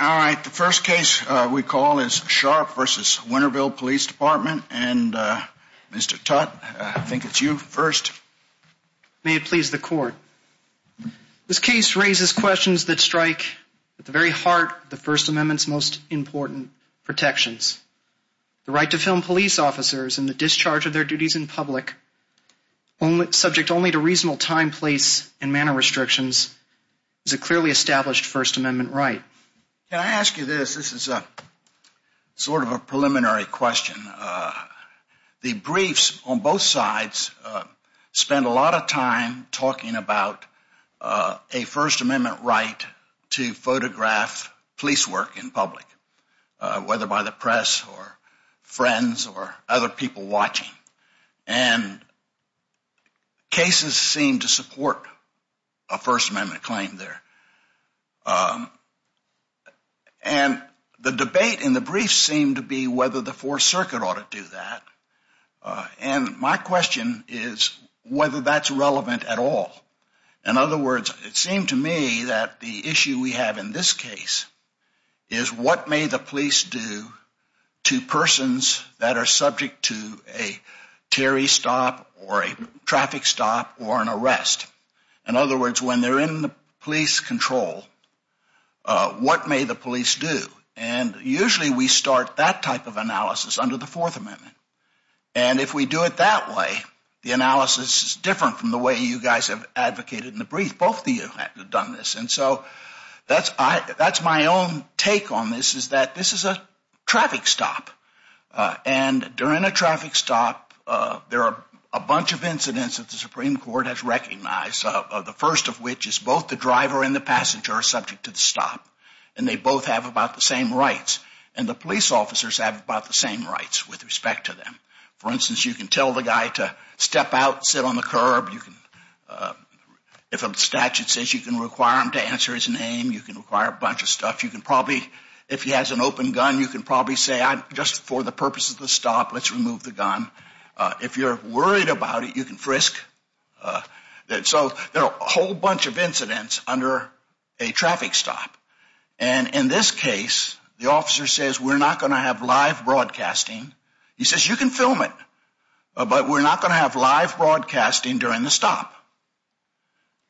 Alright, the first case we call is Sharpe v. Winterville Police Department, and Mr. Tutte, I think it's you first. May it please the court. This case raises questions that strike at the very heart of the First Amendment's most important protections. The right to film police officers in the discharge of their duties in public, subject only to reasonable time, place, and manner restrictions, is a clearly established First Amendment right. Can I ask you this? This is sort of a preliminary question. The briefs on both sides spend a lot of time talking about a First Amendment right to photograph police work in public, whether by the press or friends or other people watching. And cases seem to support a First Amendment claim there. And the debate in the briefs seem to be whether the Fourth Circuit ought to do that. And my question is whether that's relevant at all. In other words, it seemed to me that the issue we have in this case is what may the police do to persons that are subject to a Terry stop or a traffic stop or an arrest? In other words, when they're in the police control, what may the police do? And usually we start that type of analysis under the Fourth Amendment. And if we do it that way, the analysis is different from the way you guys have advocated in the brief. Both of you have done this. And so that's my own take on this, is that this is a traffic stop. And during a traffic stop, there are a bunch of incidents that the Supreme Court has recognized, the first of which is both the driver and the passenger are subject to the stop. And they both have about the same rights. And the police officers have about the same rights with respect to them. For instance, you can tell the guy to step out, sit on the curb. If a statute says you can require him to answer his name, you can require a bunch of stuff. You can probably, if he has an open gun, you can probably say, just for the purpose of the stop, let's remove the gun. If you're worried about it, you can frisk. So there are a whole bunch of incidents under a traffic stop. And in this case, the officer says, we're not going to have live broadcasting. He says, you can film it, but we're not going to have live broadcasting during the stop.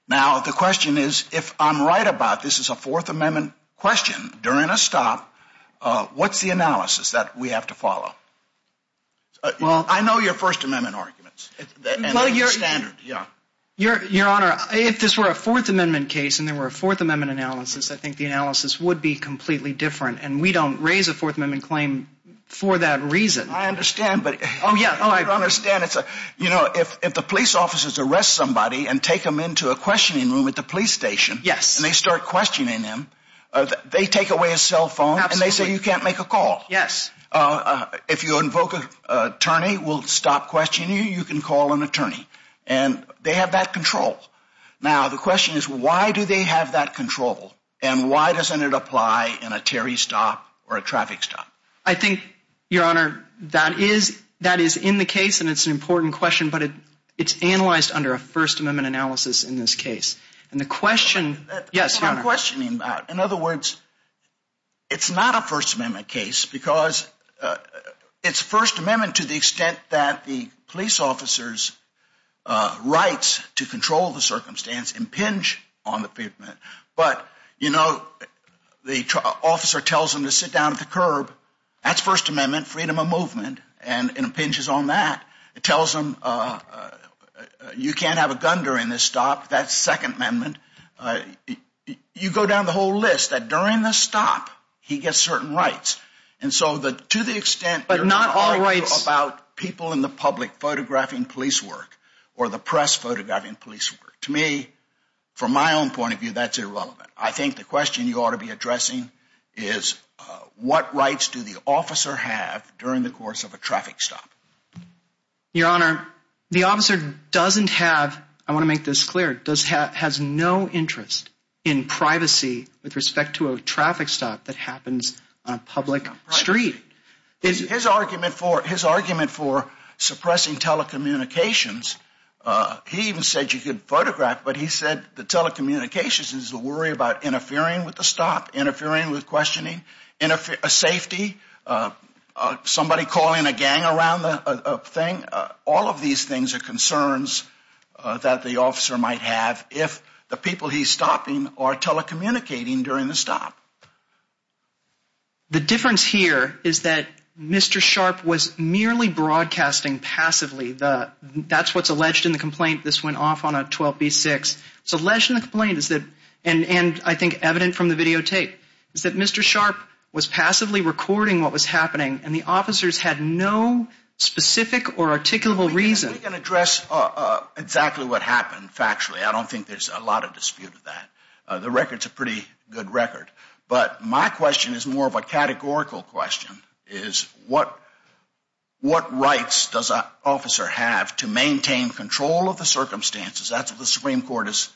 Now, the question is, if I'm right about this is a Fourth Amendment question during a stop, I know your First Amendment arguments, and they're standard. Your Honor, if this were a Fourth Amendment case and there were a Fourth Amendment analysis, I think the analysis would be completely different. And we don't raise a Fourth Amendment claim for that reason. I understand, but I don't understand. You know, if the police officers arrest somebody and take them into a questioning room at the police station, and they start questioning them, they take away his cell phone, and they say, you can't make a call. Yes. If you invoke an attorney, we'll stop questioning you. You can call an attorney. And they have that control. Now, the question is, why do they have that control? And why doesn't it apply in a Terry stop or a traffic stop? I think, Your Honor, that is in the case, and it's an important question, but it's analyzed under a First Amendment analysis in this case. And the question, yes, Your Honor. In other words, it's not a First Amendment case because it's First Amendment to the extent that the police officer's rights to control the circumstance impinge on the pavement. But, you know, the officer tells them to sit down at the curb. That's First Amendment freedom of movement, and it impinges on that. It tells them you can't have a gun during this stop. That's Second Amendment. You go down the whole list that during the stop, he gets certain rights. And so to the extent you're talking about people in the public photographing police work or the press photographing police work, to me, from my own point of view, that's irrelevant. I think the question you ought to be addressing is, what rights do the officer have during the course of a traffic stop? Your Honor, the officer doesn't have, I want to make this clear, has no interest in privacy with respect to a traffic stop that happens on a public street. His argument for suppressing telecommunications, he even said you could photograph, but he said the telecommunications is to worry about interfering with the stop, interfering with questioning, interfering with safety, somebody calling a gang around the thing. All of these things are concerns that the officer might have if the people he's stopping are telecommunicating during the stop. The difference here is that Mr. Sharp was merely broadcasting passively. That's what's alleged in the complaint. This went off on a 12B6. It's alleged in the complaint, and I think evident from the videotape, is that Mr. Sharp was passively recording what was happening, and the officers had no specific or articulable reason. I can address exactly what happened factually. I don't think there's a lot of dispute with that. The record's a pretty good record. But my question is more of a categorical question, is what rights does an officer have to maintain control of the circumstances? That's what the Supreme Court has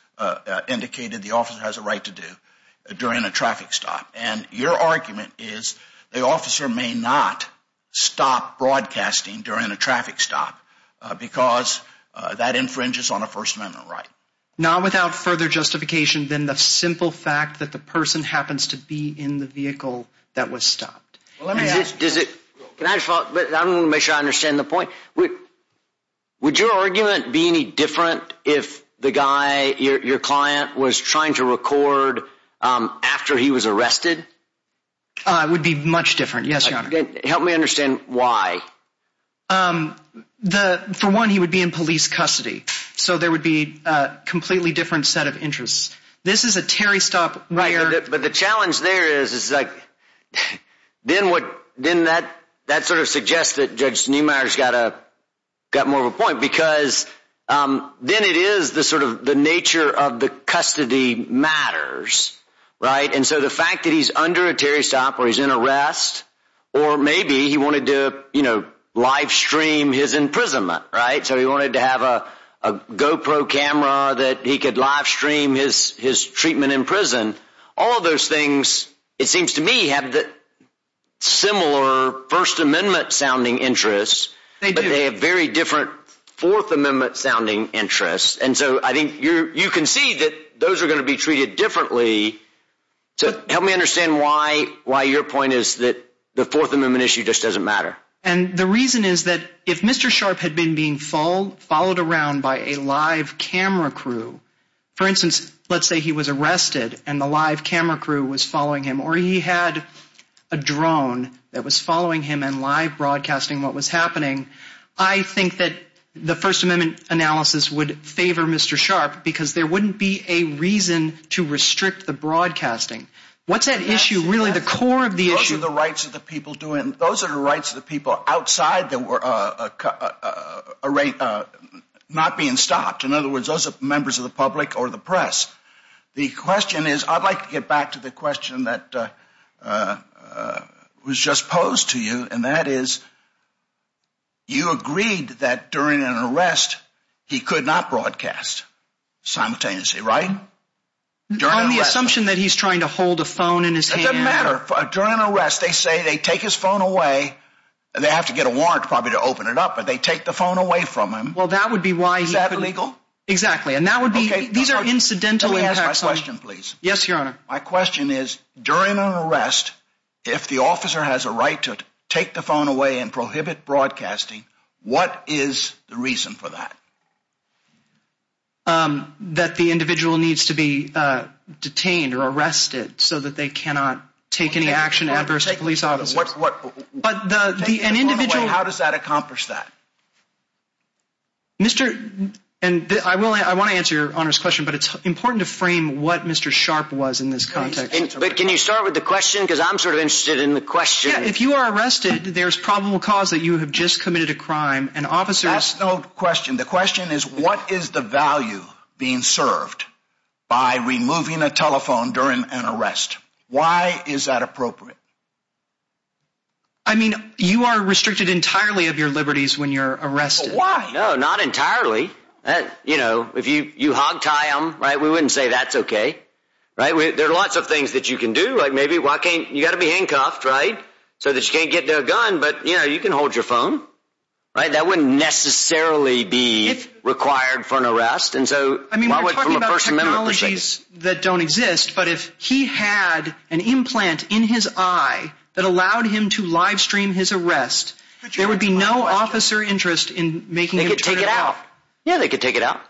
indicated the officer has a right to do during a traffic stop. And your argument is the officer may not stop broadcasting during a traffic stop because that infringes on a First Amendment right. Not without further justification than the simple fact that the person happens to be in the vehicle that was stopped. Can I just follow up? I want to make sure I understand the point. Would your argument be any different if the guy, your client, was trying to record after he was arrested? It would be much different, yes, Your Honor. Help me understand why. For one, he would be in police custody, so there would be a completely different set of interests. This is a Terry stop where— But the challenge there is, then that sort of suggests that Judge Neumeier's got more of a point because then it is the nature of the custody matters, right? And so the fact that he's under a Terry stop or he's in arrest, or maybe he wanted to live stream his imprisonment, right? So he wanted to have a GoPro camera that he could live stream his treatment in prison. All of those things, it seems to me, have similar First Amendment-sounding interests. They do. But they have very different Fourth Amendment-sounding interests. And so I think you can see that those are going to be treated differently. So help me understand why your point is that the Fourth Amendment issue just doesn't matter. And the reason is that if Mr. Sharp had been being followed around by a live camera crew, for instance, let's say he was arrested and the live camera crew was following him, or he had a drone that was following him and live broadcasting what was happening, I think that the First Amendment analysis would favor Mr. Sharp because there wouldn't be a reason to restrict the broadcasting. What's that issue really, the core of the issue? Those are the rights of the people doing— Those are the rights of the people outside that were not being stopped. In other words, those are members of the public or the press. The question is—I'd like to get back to the question that was just posed to you, and that is you agreed that during an arrest he could not broadcast simultaneously, right? On the assumption that he's trying to hold a phone in his hand. It doesn't matter. During an arrest, they say they take his phone away. They have to get a warrant probably to open it up, but they take the phone away from him. Well, that would be why— Is that illegal? Exactly, and that would be—these are incidental impacts. Let me ask my question, please. Yes, Your Honor. My question is, during an arrest, if the officer has a right to take the phone away and prohibit broadcasting, what is the reason for that? That the individual needs to be detained or arrested so that they cannot take any action adverse to police officers. Take the phone away. How does that accomplish that? Mr.—and I want to answer Your Honor's question, but it's important to frame what Mr. Sharp was in this context. But can you start with the question? Because I'm sort of interested in the question. If you are arrested, there's probable cause that you have just committed a crime, and officers— That's no question. The question is, what is the value being served by removing a telephone during an arrest? Why is that appropriate? I mean, you are restricted entirely of your liberties when you're arrested. But why? No, not entirely. You know, if you hogtie them, right, we wouldn't say that's okay. Right? There are lots of things that you can do. Like maybe, why can't—you've got to be handcuffed, right, so that you can't get to a gun. But, you know, you can hold your phone. Right? That wouldn't necessarily be required for an arrest. And so— I mean, we're talking about technologies that don't exist. But if he had an implant in his eye that allowed him to livestream his arrest, there would be no officer interest in making him turn it off. They could take it out. Yeah, they could take it out.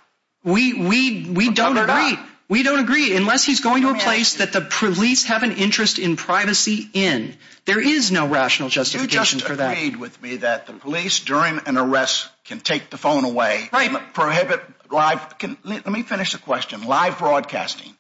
We don't agree. We don't agree. Unless he's going to a place that the police have an interest in privacy in, there is no rational justification for that. You just agreed with me that the police, during an arrest, can take the phone away. Right. Prohibit live—let me finish the question. Live broadcasting.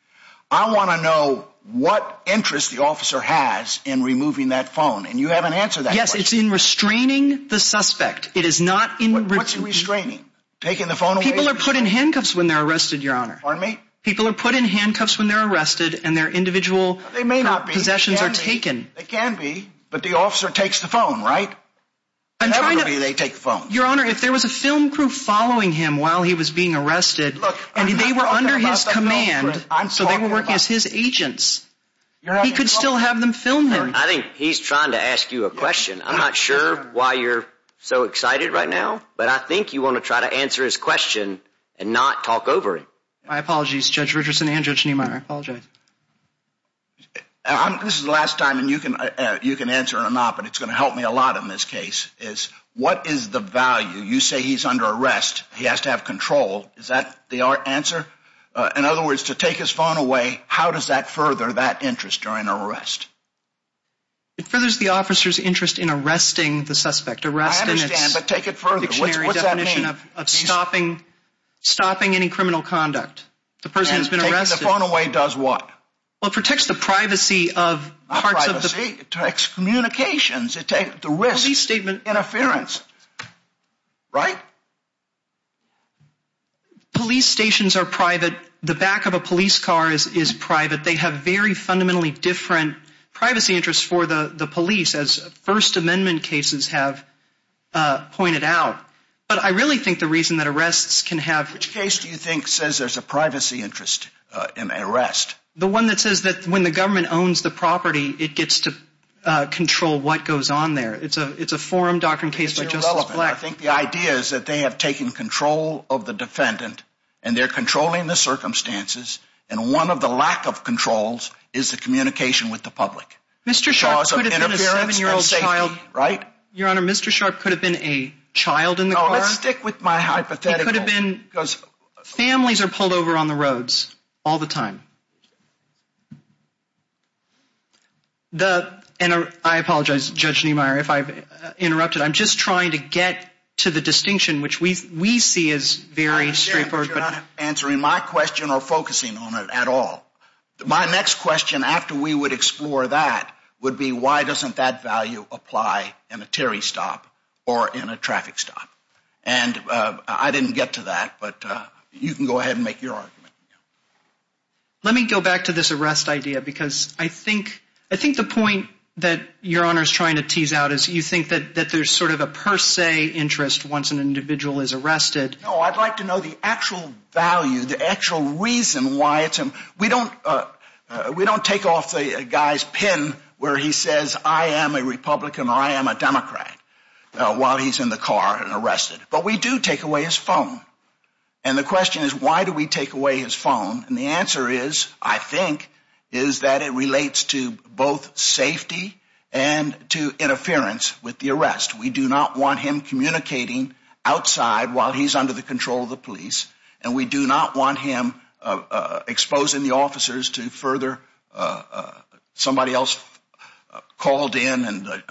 I want to know what interest the officer has in removing that phone. And you haven't answered that question. Yes, it's in restraining the suspect. It is not in— What's he restraining? Taking the phone away? People are put in handcuffs when they're arrested, Your Honor. Pardon me? People are put in handcuffs when they're arrested, and their individual possessions are taken. They may not be. They can be. They can be. But the officer takes the phone, right? Inevitably, they take the phone. Your Honor, if there was a film crew following him while he was being arrested, and they were under his command, so they were working as his agents, he could still have them film him. I think he's trying to ask you a question. I'm not sure why you're so excited right now, but I think you want to try to answer his question and not talk over it. My apologies, Judge Richardson and Judge Niemeyer. I apologize. This is the last time you can answer or not, but it's going to help me a lot in this case, is what is the value? You say he's under arrest. He has to have control. Is that the answer? In other words, to take his phone away, how does that further that interest during an arrest? It furthers the officer's interest in arresting the suspect. I understand, but take it further. What's that mean? Stopping any criminal conduct. The person who's been arrested. And taking the phone away does what? Well, it protects the privacy of parts of the police. Not privacy. It protects communications. It takes the risk. Police statement. Interference, right? Police stations are private. The back of a police car is private. They have very fundamentally different privacy interests for the police, as First Amendment cases have pointed out. But I really think the reason that arrests can have. Which case do you think says there's a privacy interest in an arrest? The one that says that when the government owns the property, it gets to control what goes on there. It's a forum doctrine case by Justice Black. I think the idea is that they have taken control of the defendant, and they're controlling the circumstances, and one of the lack of controls is the communication with the public. Mr. Sharp could have been a seven-year-old child. Right? Your Honor, Mr. Sharp could have been a child in the car. No, let's stick with my hypothetical. He could have been. Because families are pulled over on the roads all the time. And I apologize, Judge Niemeyer, if I've interrupted. I'm just trying to get to the distinction, which we see as very straightforward. You're not answering my question or focusing on it at all. My next question, after we would explore that, would be why doesn't that value apply in a Terry stop or in a traffic stop? And I didn't get to that, but you can go ahead and make your argument. Let me go back to this arrest idea, because I think the point that Your Honor is trying to tease out is you think that there's sort of a per se interest once an individual is arrested. No, I'd like to know the actual value, the actual reason why it's an arrest. We don't take off the guy's pin where he says, I am a Republican or I am a Democrat while he's in the car and arrested. But we do take away his phone. And the question is, why do we take away his phone? And the answer is, I think, is that it relates to both safety and to interference with the arrest. We do not want him communicating outside while he's under the control of the police. And we do not want him exposing the officers to further somebody else called in and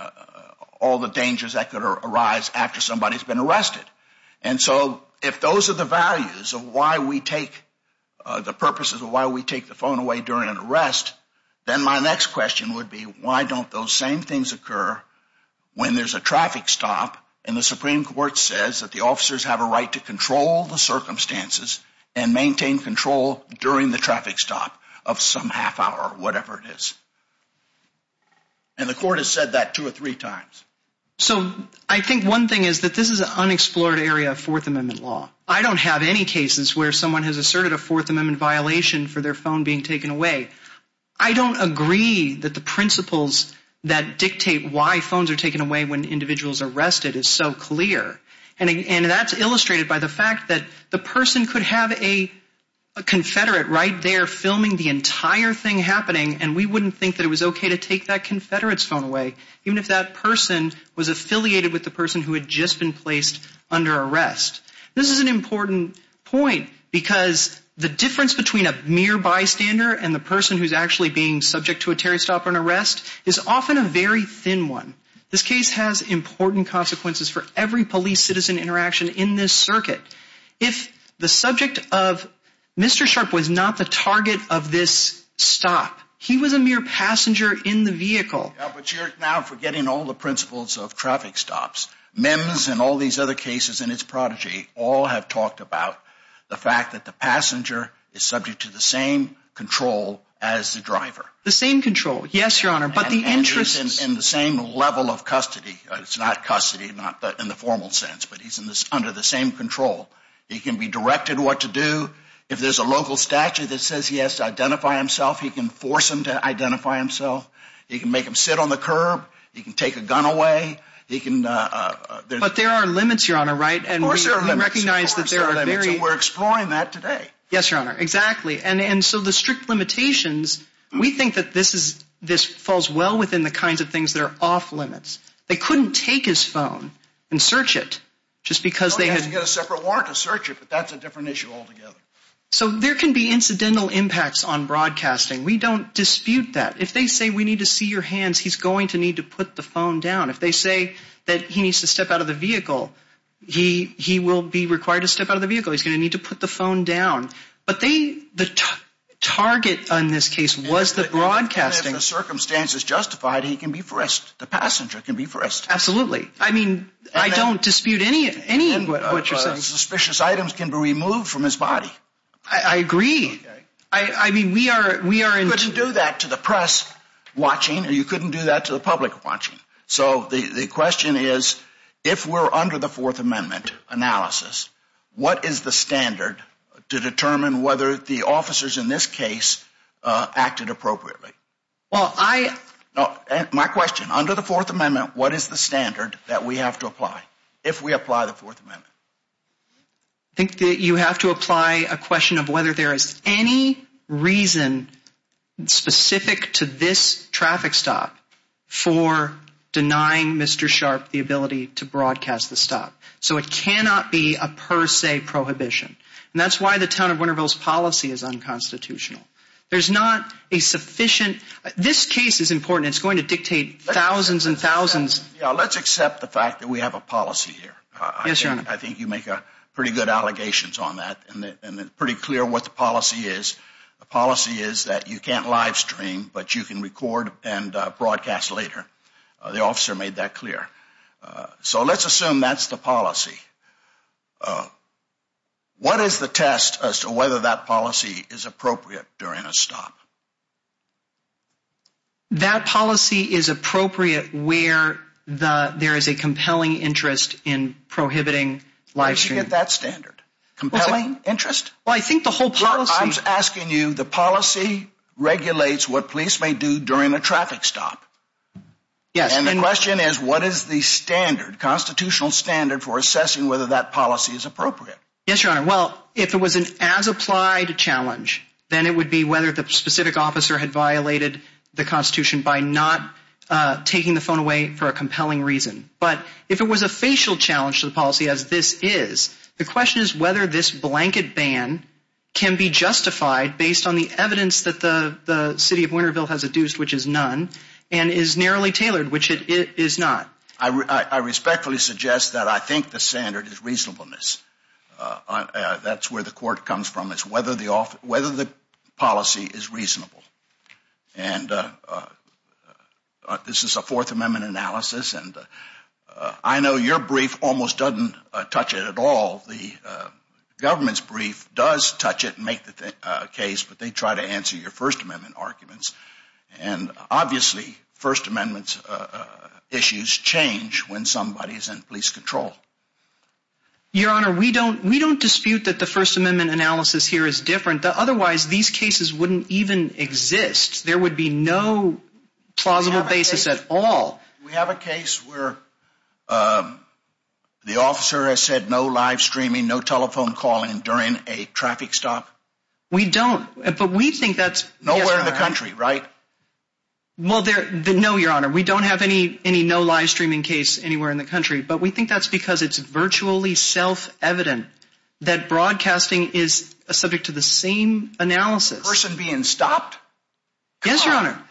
all the dangers that could arise after somebody's been arrested. And so if those are the values of why we take the purposes of why we take the phone away during an arrest, then my next question would be, why don't those same things occur when there's a traffic stop and the Supreme Court says that the officers have a right to control the circumstances and maintain control during the traffic stop of some half hour or whatever it is. And the court has said that two or three times. So I think one thing is that this is an unexplored area of Fourth Amendment law. I don't have any cases where someone has asserted a Fourth Amendment violation for their phone being taken away. I don't agree that the principles that dictate why phones are taken away when individuals are arrested is so clear. And that's illustrated by the fact that the person could have a confederate right there filming the entire thing happening, and we wouldn't think that it was okay to take that confederate's phone away even if that person was affiliated with the person who had just been placed under arrest. This is an important point because the difference between a mere bystander and the person who's actually being subject to a Terry stop or an arrest is often a very thin one. This case has important consequences for every police citizen interaction in this circuit. If the subject of Mr. Sharp was not the target of this stop, he was a mere passenger in the vehicle. Yeah, but you're now forgetting all the principles of traffic stops. MIMS and all these other cases and its prodigy all have talked about the fact that the passenger is subject to the same control as the driver. The same control, yes, Your Honor, but the interest is in the same level of custody. It's not custody, not in the formal sense, but he's under the same control. He can be directed what to do. If there's a local statute that says he has to identify himself, he can force him to identify himself. He can make him sit on the curb. He can take a gun away. He can. But there are limits, Your Honor. Right. And we recognize that we're exploring that today. Yes, Your Honor. Exactly. And so the strict limitations, we think that this is this falls well within the kinds of things that are off limits. They couldn't take his phone and search it just because they had to get a separate warrant to search it. But that's a different issue altogether. So there can be incidental impacts on broadcasting. We don't dispute that. If they say we need to see your hands, he's going to need to put the phone down. If they say that he needs to step out of the vehicle, he will be required to step out of the vehicle. He's going to need to put the phone down. But the target on this case was the broadcasting. And if the circumstance is justified, he can be frisked. The passenger can be frisked. Absolutely. I mean, I don't dispute any of what you're saying. And suspicious items can be removed from his body. I agree. You couldn't do that to the press watching. You couldn't do that to the public watching. So the question is, if we're under the Fourth Amendment analysis, what is the standard to determine whether the officers in this case acted appropriately? My question, under the Fourth Amendment, what is the standard that we have to apply if we apply the Fourth Amendment? I think that you have to apply a question of whether there is any reason specific to this traffic stop for denying Mr. Sharp the ability to broadcast the stop. So it cannot be a per se prohibition. And that's why the town of Winterville's policy is unconstitutional. There's not a sufficient – this case is important. It's going to dictate thousands and thousands. Let's accept the fact that we have a policy here. I think you make pretty good allegations on that. And it's pretty clear what the policy is. The policy is that you can't live stream, but you can record and broadcast later. The officer made that clear. So let's assume that's the policy. What is the test as to whether that policy is appropriate during a stop? That policy is appropriate where there is a compelling interest in prohibiting live streaming. Where did you get that standard? Compelling interest? Well, I think the whole policy – I'm asking you, the policy regulates what police may do during a traffic stop. Yes. And the question is, what is the standard, constitutional standard, for assessing whether that policy is appropriate? Yes, Your Honor. Well, if it was an as-applied challenge, then it would be whether the specific officer had violated the Constitution by not taking the phone away for a compelling reason. But if it was a facial challenge to the policy, as this is, the question is whether this blanket ban can be justified based on the evidence that the city of Winterville has adduced, which is none, and is narrowly tailored, which it is not. I respectfully suggest that I think the standard is reasonableness. That's where the court comes from, is whether the policy is reasonable. And this is a Fourth Amendment analysis, and I know your brief almost doesn't touch it at all. The government's brief does touch it and make the case, but they try to answer your First Amendment arguments. And obviously, First Amendment issues change when somebody is in police control. Your Honor, we don't dispute that the First Amendment analysis here is different. Otherwise, these cases wouldn't even exist. There would be no plausible basis at all. We have a case where the officer has said no live streaming, no telephone calling during a traffic stop. We don't, but we think that's… Well, no, Your Honor. We don't have any no live streaming case anywhere in the country, but we think that's because it's virtually self-evident that broadcasting is subject to the same analysis. A person being stopped? Yes, Your Honor.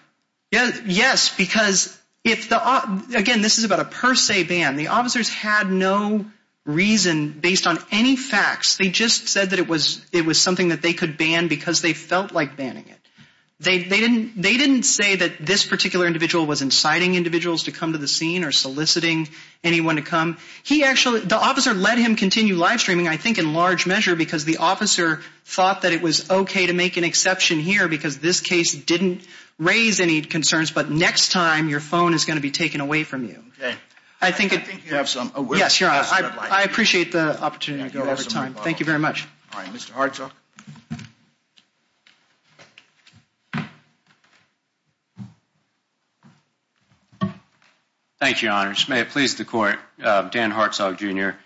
Yes, because if the… Again, this is about a per se ban. The officers had no reason based on any facts. They just said that it was something that they could ban because they felt like banning it. They didn't say that this particular individual was inciting individuals to come to the scene or soliciting anyone to come. He actually… The officer let him continue live streaming, I think in large measure, because the officer thought that it was okay to make an exception here because this case didn't raise any concerns. But next time, your phone is going to be taken away from you. Okay. I think it… I think you have some… Yes, Your Honor. I appreciate the opportunity to go over time. Thank you very much. All right. Mr. Hartzog. Thank you, Your Honor. May it please the court, Dan Hartzog, Jr.,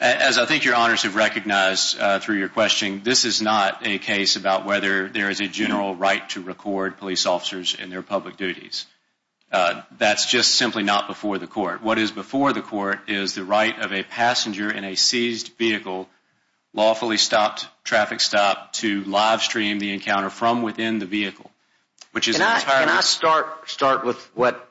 as I think your honors have recognized through your question, this is not a case about whether there is a general right to record police officers in their public duties. That's just simply not before the court. What is before the court is the right of a passenger in a seized vehicle, lawfully stopped, traffic stopped, to live stream the encounter from within the vehicle, which is… Can I start with what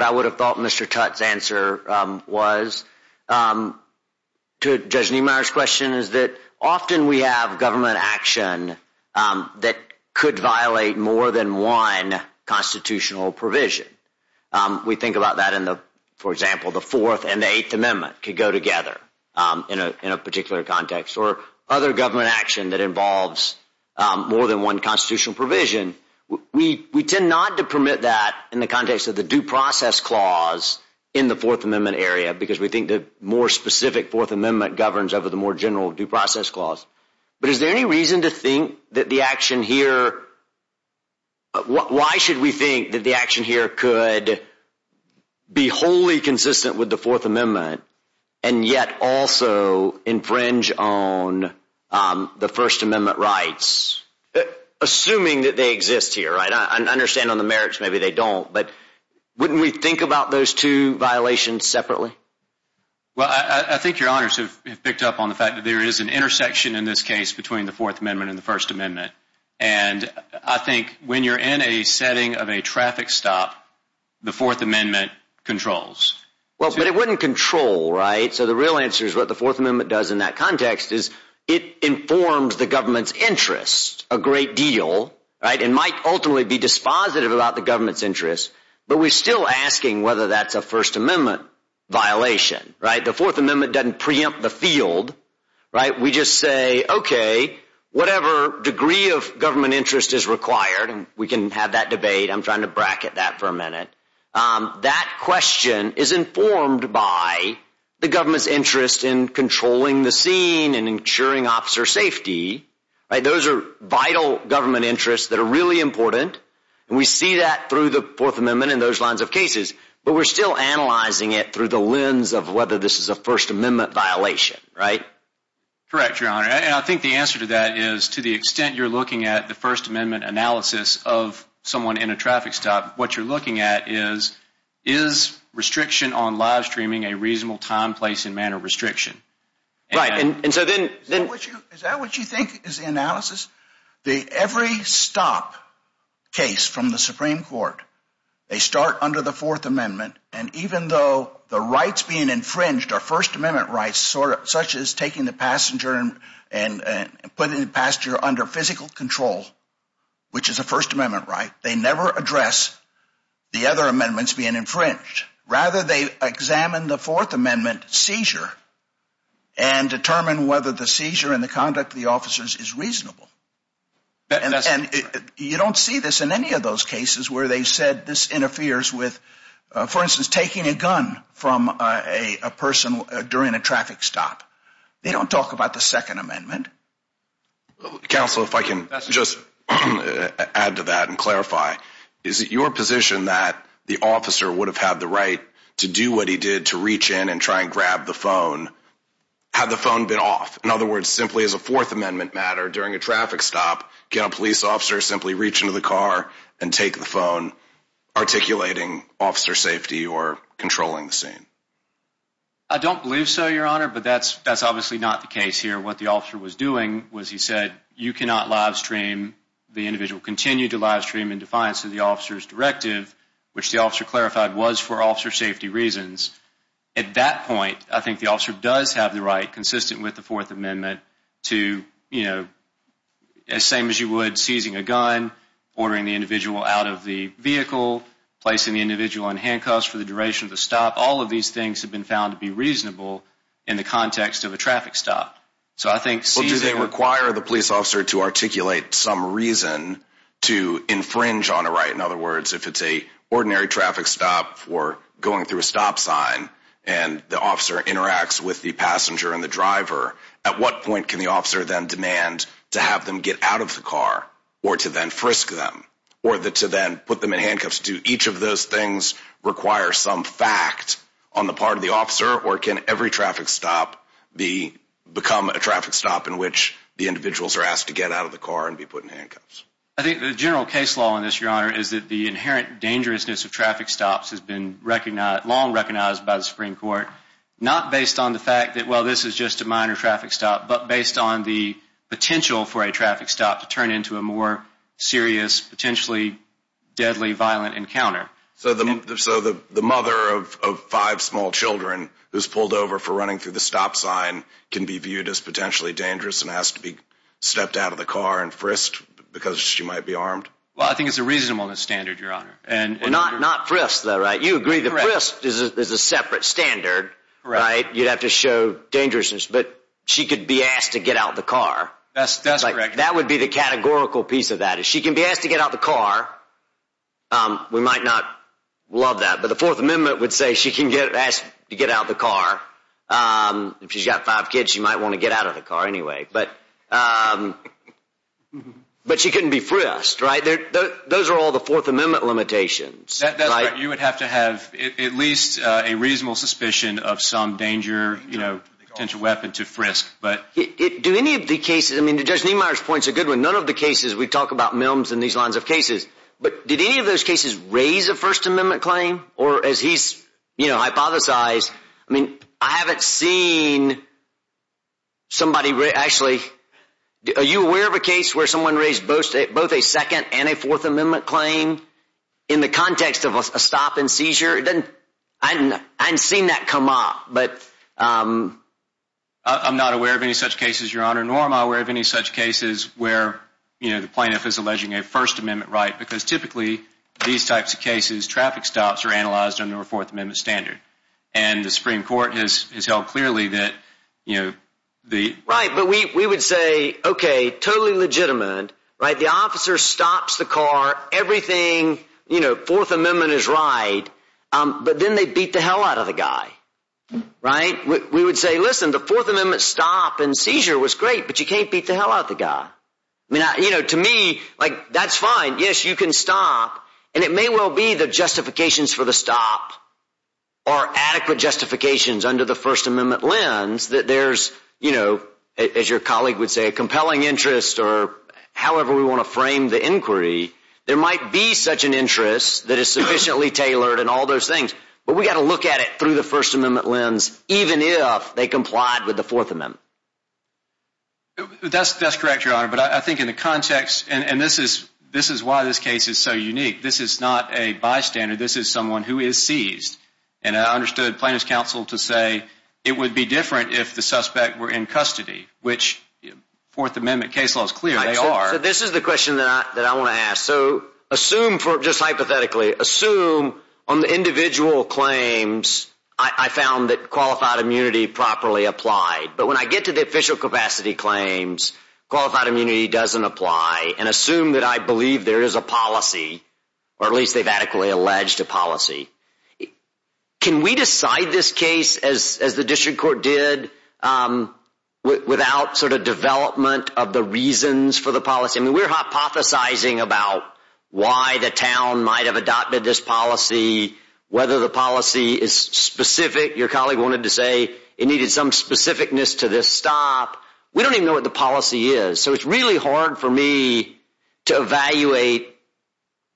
I would have thought Mr. Tutte's answer was? Judge Niemeyer's question is that often we have government action that could violate more than one constitutional provision. We think about that in the, for example, the Fourth and the Eighth Amendment could go together in a particular context or other government action that involves more than one constitutional provision. We tend not to permit that in the context of the due process clause in the Fourth Amendment area because we think the more specific Fourth Amendment governs over the more general due process clause. But is there any reason to think that the action here… could be wholly consistent with the Fourth Amendment and yet also infringe on the First Amendment rights? Assuming that they exist here, right? I understand on the merits maybe they don't, but wouldn't we think about those two violations separately? Well, I think your honors have picked up on the fact that there is an intersection in this case between the Fourth Amendment and the First Amendment. And I think when you're in a setting of a traffic stop, the Fourth Amendment controls. Well, but it wouldn't control, right? So the real answer is what the Fourth Amendment does in that context is it informs the government's interest a great deal, right? It might ultimately be dispositive about the government's interest, but we're still asking whether that's a First Amendment violation, right? The Fourth Amendment doesn't preempt the field, right? We just say, okay, whatever degree of government interest is required, and we can have that debate, I'm trying to bracket that for a minute, that question is informed by the government's interest in controlling the scene and ensuring officer safety, right? Those are vital government interests that are really important, and we see that through the Fourth Amendment in those lines of cases, but we're still analyzing it through the lens of whether this is a First Amendment violation, right? Correct, your honor. And I think the answer to that is to the extent you're looking at the First Amendment analysis of someone in a traffic stop, what you're looking at is, is restriction on live streaming a reasonable time, place, and manner restriction? Right, and so then... Is that what you think is the analysis? Every stop case from the Supreme Court, they start under the Fourth Amendment, and even though the rights being infringed are First Amendment rights, such as taking the passenger and putting the passenger under physical control, which is a First Amendment right, they never address the other amendments being infringed. Rather, they examine the Fourth Amendment seizure and determine whether the seizure and the conduct of the officers is reasonable. And you don't see this in any of those cases where they said this interferes with, for instance, taking a gun from a person during a traffic stop. They don't talk about the Second Amendment. Counsel, if I can just add to that and clarify, is it your position that the officer would have had the right to do what he did to reach in and try and grab the phone had the phone been off? In other words, simply as a Fourth Amendment matter, during a traffic stop, can a police officer simply reach into the car and take the phone, articulating officer safety or controlling the scene? I don't believe so, Your Honor, but that's obviously not the case here. What the officer was doing was he said, you cannot live stream, the individual continued to live stream in defiance of the officer's directive, which the officer clarified was for officer safety reasons. At that point, I think the officer does have the right, consistent with the Fourth Amendment, to, you know, as same as you would seizing a gun, ordering the individual out of the vehicle, placing the individual in handcuffs for the duration of the stop. All of these things have been found to be reasonable in the context of a traffic stop. So I think seizing a gun… Well, do they require the police officer to articulate some reason to infringe on a right? In other words, if it's an ordinary traffic stop or going through a stop sign and the officer interacts with the passenger and the driver, at what point can the officer then demand to have them get out of the car or to then frisk them or to then put them in handcuffs? Do each of those things require some fact on the part of the officer or can every traffic stop become a traffic stop in which the individuals are asked to get out of the car and be put in handcuffs? I think the general case law in this, Your Honor, is that the inherent dangerousness of traffic stops has been long recognized by the Supreme Court, not based on the fact that, well, this is just a minor traffic stop, but based on the potential for a traffic stop to turn into a more serious, potentially deadly, violent encounter. So the mother of five small children who's pulled over for running through the stop sign can be viewed as potentially dangerous and asked to be stepped out of the car and frisked because she might be armed? Well, I think it's a reasonable standard, Your Honor. Not frisked, though, right? You agree that frisked is a separate standard, right? You'd have to show dangerousness. But she could be asked to get out of the car. That's correct. That would be the categorical piece of that. She can be asked to get out of the car. We might not love that, but the Fourth Amendment would say she can be asked to get out of the car. If she's got five kids, she might want to get out of the car anyway. But she couldn't be frisked, right? Those are all the Fourth Amendment limitations, right? That's right. You would have to have at least a reasonable suspicion of some danger, you know, potential weapon to frisk. Do any of the cases—I mean, Judge Niemeyer's point's a good one. None of the cases—we talk about milms in these lines of cases. But did any of those cases raise a First Amendment claim? Or as he's hypothesized, I mean, I haven't seen somebody actually— are you aware of a case where someone raised both a Second and a Fourth Amendment claim in the context of a stop and seizure? I haven't seen that come up. I'm not aware of any such cases, Your Honor. Nor am I aware of any such cases where, you know, the plaintiff is alleging a First Amendment right because typically these types of cases, traffic stops are analyzed under a Fourth Amendment standard. And the Supreme Court has held clearly that, you know, the— Right, but we would say, okay, totally legitimate, right? The officer stops the car. Everything, you know, Fourth Amendment is right. But then they beat the hell out of the guy, right? We would say, listen, the Fourth Amendment stop and seizure was great, but you can't beat the hell out of the guy. I mean, you know, to me, like, that's fine. Yes, you can stop. And it may well be the justifications for the stop are adequate justifications under the First Amendment lens that there's, you know, as your colleague would say, a compelling interest or however we want to frame the inquiry. There might be such an interest that is sufficiently tailored and all those things. But we've got to look at it through the First Amendment lens even if they complied with the Fourth Amendment. That's correct, Your Honor. But I think in the context—and this is why this case is so unique. This is not a bystander. This is someone who is seized. And I understood plaintiff's counsel to say it would be different if the suspect were in custody, which Fourth Amendment case law is clear they are. So this is the question that I want to ask. So assume—just hypothetically—assume on the individual claims, I found that qualified immunity properly applied. But when I get to the official capacity claims, qualified immunity doesn't apply. And assume that I believe there is a policy, or at least they've adequately alleged a policy. Can we decide this case as the district court did without sort of development of the reasons for the policy? I mean, we're hypothesizing about why the town might have adopted this policy, whether the policy is specific. Your colleague wanted to say it needed some specificness to this stop. We don't even know what the policy is. So it's really hard for me to evaluate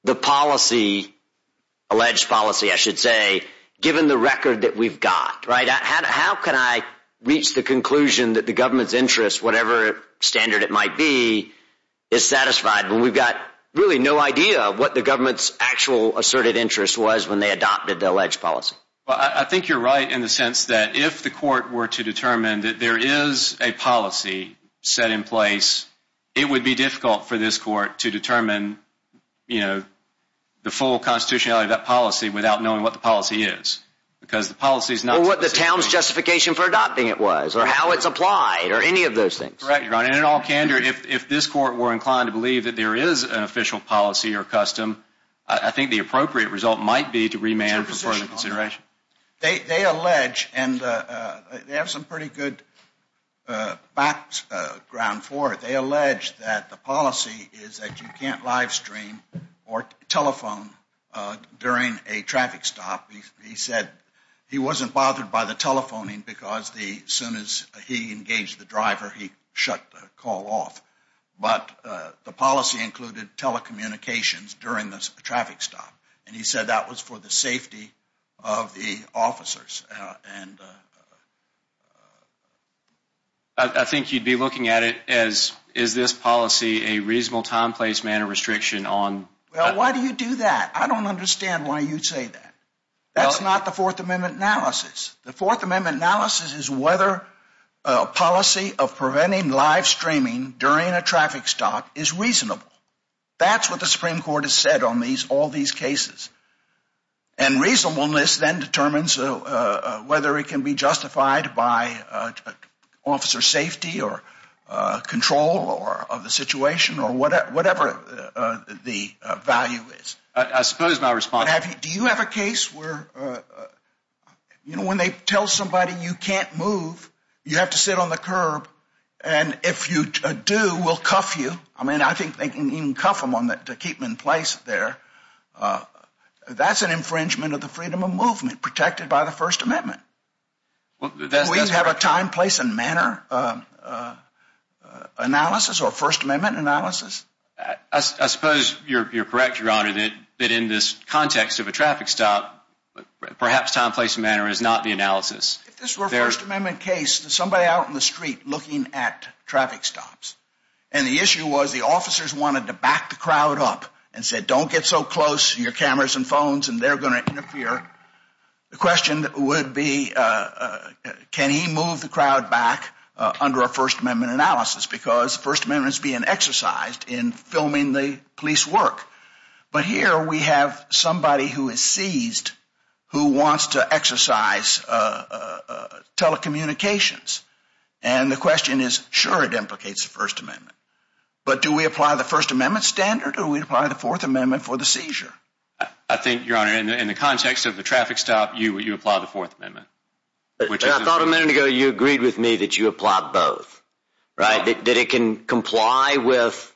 the policy—alleged policy, I should say—given the record that we've got. How can I reach the conclusion that the government's interest, whatever standard it might be, is satisfied when we've got really no idea what the government's actual asserted interest was when they adopted the alleged policy? I think you're right in the sense that if the court were to determine that there is a policy set in place, it would be difficult for this court to determine the full constitutionality of that policy without knowing what the policy is. Or what the town's justification for adopting it was, or how it's applied, or any of those things. Correct, Your Honor. And in all candor, if this court were inclined to believe that there is an official policy or custom, I think the appropriate result might be to remand for further consideration. They allege, and they have some pretty good background for it, they allege that the policy is that you can't livestream or telephone during a traffic stop. He said he wasn't bothered by the telephoning because as soon as he engaged the driver, he shut the call off. But the policy included telecommunications during the traffic stop. And he said that was for the safety of the officers. I think you'd be looking at it as, is this policy a reasonable time, place, manner restriction on— Well, why do you do that? I don't understand why you'd say that. That's not the Fourth Amendment analysis. The Fourth Amendment analysis is whether a policy of preventing livestreaming during a traffic stop is reasonable. That's what the Supreme Court has said on all these cases. And reasonableness then determines whether it can be justified by officer safety or control of the situation or whatever the value is. As soon as my response— Do you have a case where, you know, when they tell somebody you can't move, you have to sit on the curb, and if you do, we'll cuff you. I mean, I think they can even cuff them to keep them in place there. That's an infringement of the freedom of movement protected by the First Amendment. Do we have a time, place, and manner analysis or First Amendment analysis? I suppose you're correct, Your Honor, that in this context of a traffic stop, perhaps time, place, and manner is not the analysis. If this were a First Amendment case, there's somebody out in the street looking at traffic stops. And the issue was the officers wanted to back the crowd up and said, don't get so close to your cameras and phones, and they're going to interfere. The question would be, can he move the crowd back under a First Amendment analysis? Because the First Amendment is being exercised in filming the police work. But here we have somebody who is seized who wants to exercise telecommunications. And the question is, sure, it implicates the First Amendment. But do we apply the First Amendment standard, or do we apply the Fourth Amendment for the seizure? I think, Your Honor, in the context of the traffic stop, you apply the Fourth Amendment. I thought a minute ago you agreed with me that you apply both. That it can comply with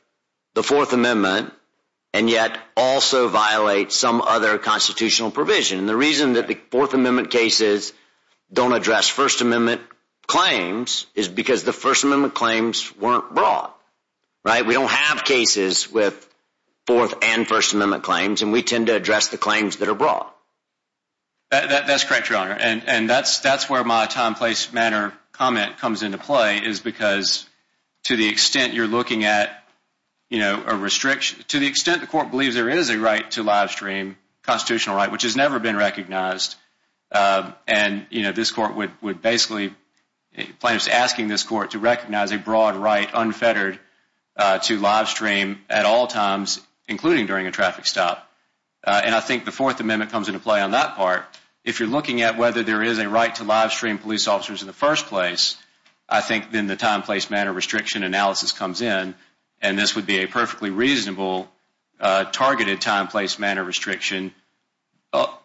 the Fourth Amendment and yet also violate some other constitutional provision. The reason that the Fourth Amendment cases don't address First Amendment claims is because the First Amendment claims weren't brought. We don't have cases with Fourth and First Amendment claims, and we tend to address the claims that are brought. That's correct, Your Honor. And that's where my time, place, manner comment comes into play, is because to the extent you're looking at a restriction, to the extent the Court believes there is a right to live stream, constitutional right, which has never been recognized, and this Court would basically, plaintiffs asking this Court to recognize a broad right unfettered to live stream at all times, including during a traffic stop. And I think the Fourth Amendment comes into play on that part. If you're looking at whether there is a right to live stream police officers in the first place, I think then the time, place, manner restriction analysis comes in, and this would be a perfectly reasonable targeted time, place, manner restriction,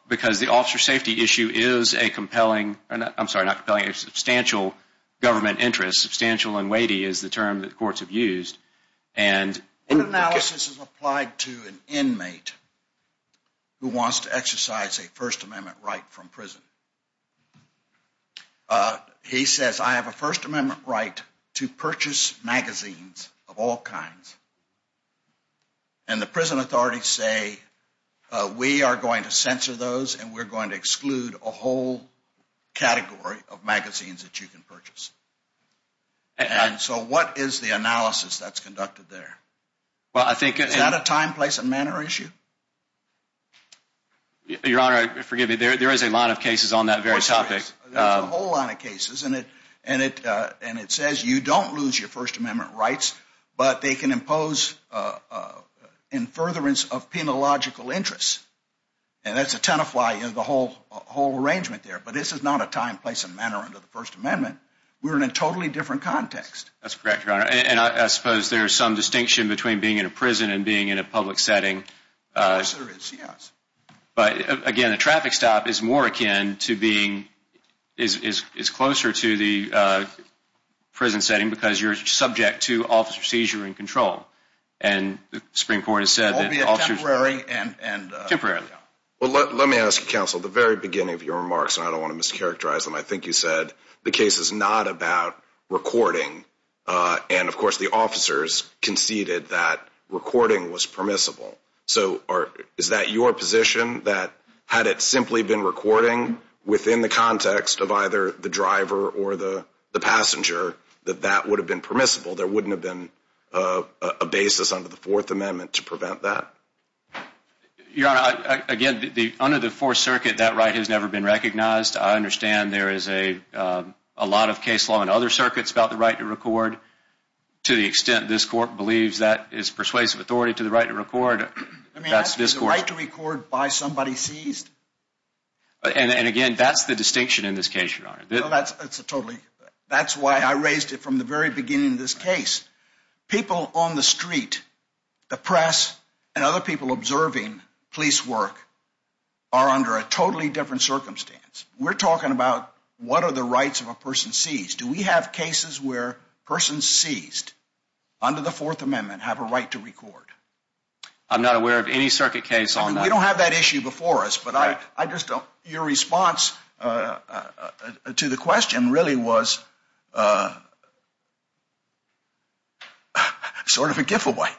because the officer safety issue is a compelling, I'm sorry, not compelling, a substantial government interest. Substantial and weighty is the term that courts have used. The analysis is applied to an inmate who wants to exercise a First Amendment right from prison. He says, I have a First Amendment right to purchase magazines of all kinds. And the prison authorities say, we are going to censor those, and we're going to exclude a whole category of magazines that you can purchase. And so what is the analysis that's conducted there? Is that a time, place, and manner issue? Your Honor, forgive me, there is a lot of cases on that very topic. There's a whole lot of cases, and it says you don't lose your First Amendment rights, but they can impose in furtherance of penological interests. And that's a ton of fly in the whole arrangement there. But this is not a time, place, and manner under the First Amendment. We're in a totally different context. That's correct, Your Honor. And I suppose there's some distinction between being in a prison and being in a public setting. Of course there is, yes. But again, a traffic stop is more akin to being, is closer to the prison setting because you're subject to officer seizure and control. And the Supreme Court has said that officers... Temporary and... Temporary. Well, let me ask you, Counsel, at the very beginning of your remarks, and I don't want to mischaracterize them, I think you said the case is not about recording. And, of course, the officers conceded that recording was permissible. So is that your position, that had it simply been recording within the context of either the driver or the passenger, that that would have been permissible? There wouldn't have been a basis under the Fourth Amendment to prevent that? Your Honor, again, under the Fourth Circuit, that right has never been recognized. I understand there is a lot of case law in other circuits about the right to record. To the extent this court believes that is persuasive authority to the right to record... Let me ask you, is the right to record by somebody seized? And, again, that's the distinction in this case, Your Honor. That's totally... That's why I raised it from the very beginning of this case. People on the street, the press, and other people observing police work are under a totally different circumstance. We're talking about what are the rights of a person seized. Do we have cases where persons seized under the Fourth Amendment have a right to record? I'm not aware of any circuit case on that. We don't have that issue before us, but I just don't... Your response to the question really was sort of a giveaway.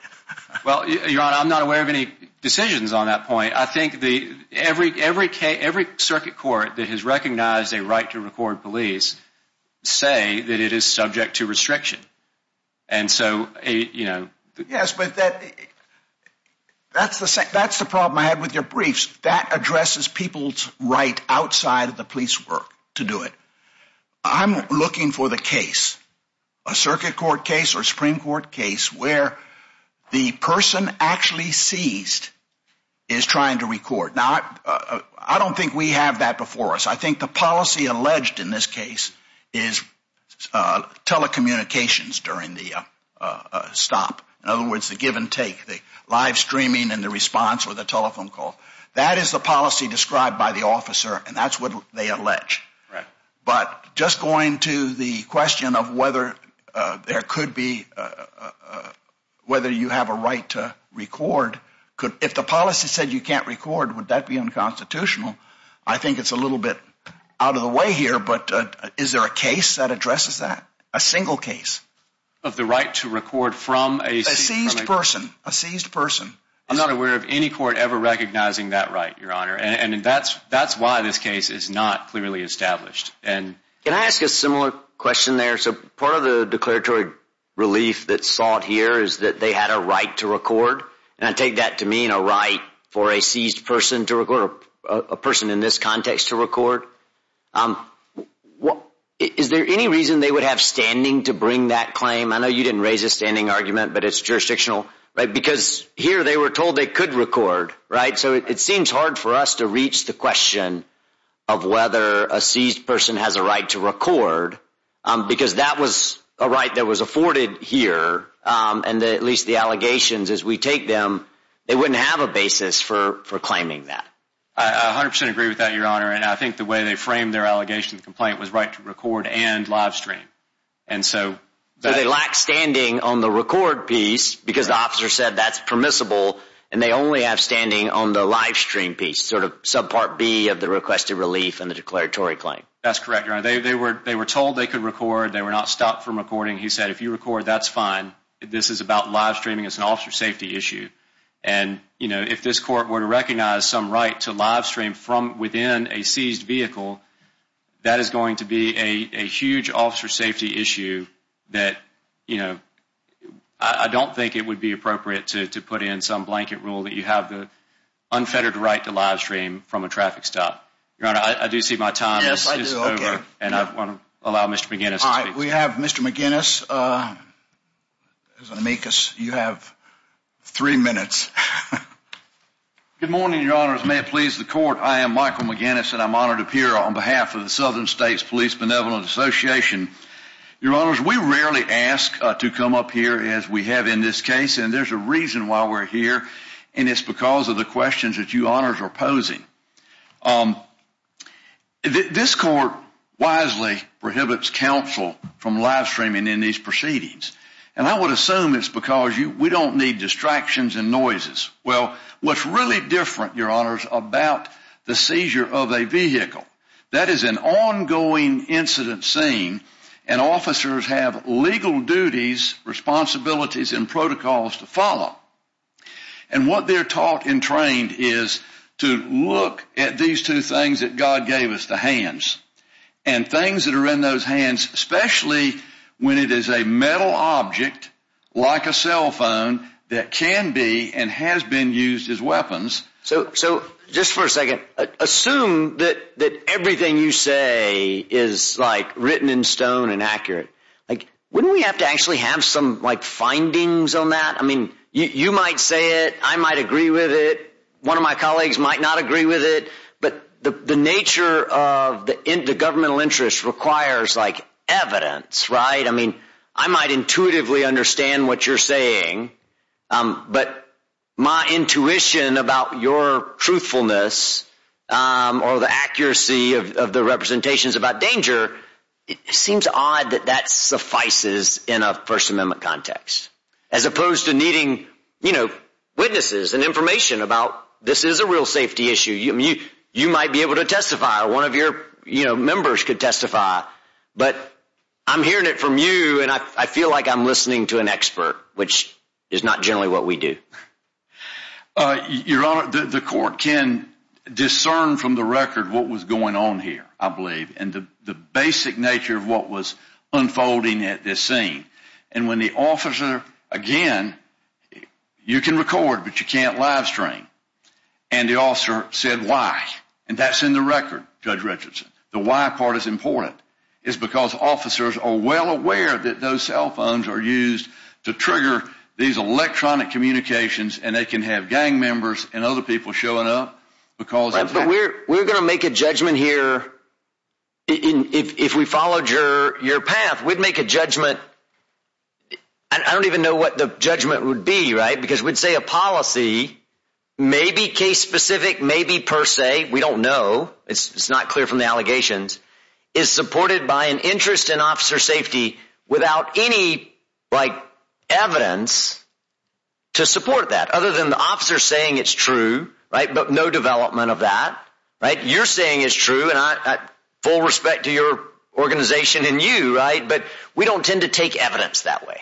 Well, Your Honor, I'm not aware of any decisions on that point. I think every circuit court that has recognized a right to record police say that it is subject to restriction. And so, you know... Yes, but that's the problem I had with your briefs. That addresses people's right outside of the police work to do it. I'm looking for the case, a circuit court case or a Supreme Court case, where the person actually seized is trying to record. Now, I don't think we have that before us. I think the policy alleged in this case is telecommunications during the stop. In other words, the give and take, the live streaming and the response or the telephone call. That is the policy described by the officer, and that's what they allege. Right. But just going to the question of whether there could be... whether you have a right to record, if the policy said you can't record, would that be unconstitutional? I think it's a little bit out of the way here, but is there a case that addresses that, a single case? Of the right to record from a... A person, a seized person. I'm not aware of any court ever recognizing that right, Your Honor, and that's why this case is not clearly established. Can I ask a similar question there? Part of the declaratory relief that's sought here is that they had a right to record, and I take that to mean a right for a seized person to record, a person in this context to record. Is there any reason they would have standing to bring that claim? I know you didn't raise a standing argument, but it's jurisdictional. Because here they were told they could record, right? So it seems hard for us to reach the question of whether a seized person has a right to record, because that was a right that was afforded here, and at least the allegations as we take them, they wouldn't have a basis for claiming that. I 100% agree with that, Your Honor, and I think the way they framed their allegation complaint was right to record and live stream. So they lack standing on the record piece because the officer said that's permissible, and they only have standing on the live stream piece, sort of subpart B of the requested relief and the declaratory claim. That's correct, Your Honor. They were told they could record. They were not stopped from recording. He said if you record, that's fine. This is about live streaming. It's an officer safety issue, and if this court were to recognize some right to live stream from within a seized vehicle, that is going to be a huge officer safety issue that, you know, I don't think it would be appropriate to put in some blanket rule that you have the unfettered right to live stream from a traffic stop. Your Honor, I do see my time is over. Yes, I do. Okay. And I want to allow Mr. McGinnis to speak. All right. We have Mr. McGinnis. You have three minutes. Good morning, Your Honor. As may it please the court, I am Michael McGinnis, and I'm honored to appear on behalf of the Southern States Police Benevolent Association. Your Honor, we rarely ask to come up here as we have in this case, and there's a reason why we're here, and it's because of the questions that you honors are posing. This court wisely prohibits counsel from live streaming in these proceedings, and I would assume it's because we don't need distractions and noises. Well, what's really different, Your Honors, about the seizure of a vehicle, that is an ongoing incident scene, and officers have legal duties, responsibilities, and protocols to follow. And what they're taught and trained is to look at these two things that God gave us, the hands, and things that are in those hands, especially when it is a metal object like a cell phone that can be and has been used as weapons. So just for a second, assume that everything you say is written in stone and accurate. Wouldn't we have to actually have some findings on that? You might say it. I might agree with it. One of my colleagues might not agree with it. But the nature of the governmental interest requires, like, evidence, right? I mean, I might intuitively understand what you're saying, but my intuition about your truthfulness or the accuracy of the representations about danger, it seems odd that that suffices in a First Amendment context, as opposed to needing, you know, witnesses and information about this is a real safety issue. You might be able to testify. One of your, you know, members could testify. But I'm hearing it from you, and I feel like I'm listening to an expert, which is not generally what we do. Your Honor, the court can discern from the record what was going on here, I believe, and the basic nature of what was unfolding at this scene. And when the officer, again, you can record, but you can't live stream. And the officer said, why? And that's in the record, Judge Richardson. The why part is important. It's because officers are well aware that those cell phones are used to trigger these electronic communications, and they can have gang members and other people showing up because of that. But we're going to make a judgment here. If we followed your path, we'd make a judgment. I don't even know what the judgment would be, right? Because we'd say a policy may be case-specific, may be per se. We don't know. It's not clear from the allegations. It's supported by an interest in officer safety without any, like, evidence to support that, other than the officer saying it's true, right, but no development of that, right? You're saying it's true, and full respect to your organization and you, right? But we don't tend to take evidence that way.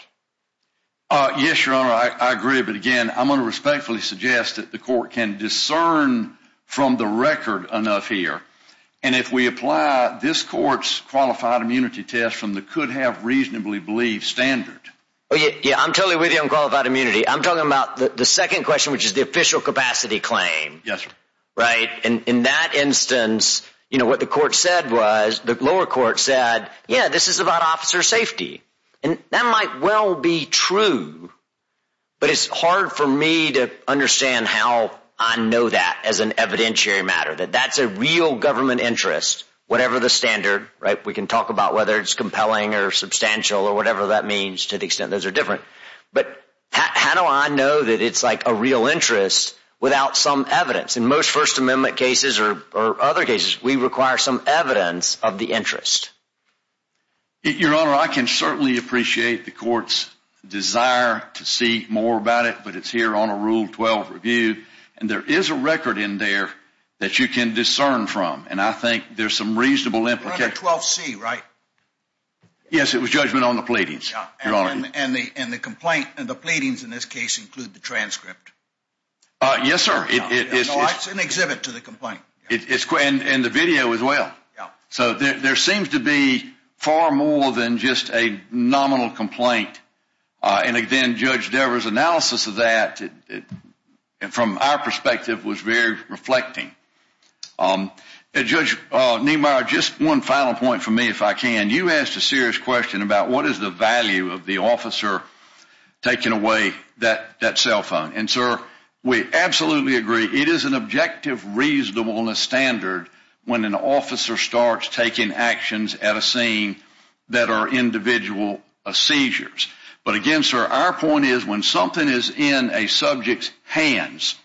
Yes, Your Honor, I agree. But, again, I'm going to respectfully suggest that the court can discern from the record enough here. And if we apply this court's qualified immunity test from the could-have-reasonably-believed standard. Yeah, I'm totally with you on qualified immunity. I'm talking about the second question, which is the official capacity claim. Yes, sir. Right? And in that instance, you know, what the court said was, the lower court said, yeah, this is about officer safety. And that might well be true, but it's hard for me to understand how I know that as an evidentiary matter, that that's a real government interest, whatever the standard, right? We can talk about whether it's compelling or substantial or whatever that means to the extent those are different. But how do I know that it's, like, a real interest without some evidence? In most First Amendment cases or other cases, we require some evidence of the interest. Your Honor, I can certainly appreciate the court's desire to see more about it, but it's here on a Rule 12 review. And there is a record in there that you can discern from. And I think there's some reasonable implication. Rule 12C, right? Yes, it was judgment on the pleadings, Your Honor. And the complaint and the pleadings in this case include the transcript. Yes, sir. It's an exhibit to the complaint. And the video as well. Yeah. So there seems to be far more than just a nominal complaint. And, again, Judge Devers' analysis of that, from our perspective, was very reflecting. Judge Niemeyer, just one final point from me, if I can. You asked a serious question about what is the value of the officer taking away that cell phone. And, sir, we absolutely agree. It is an objective reasonableness standard when an officer starts taking actions at a scene that are individual seizures. But, again, sir, our point is when something is in a subject's hands,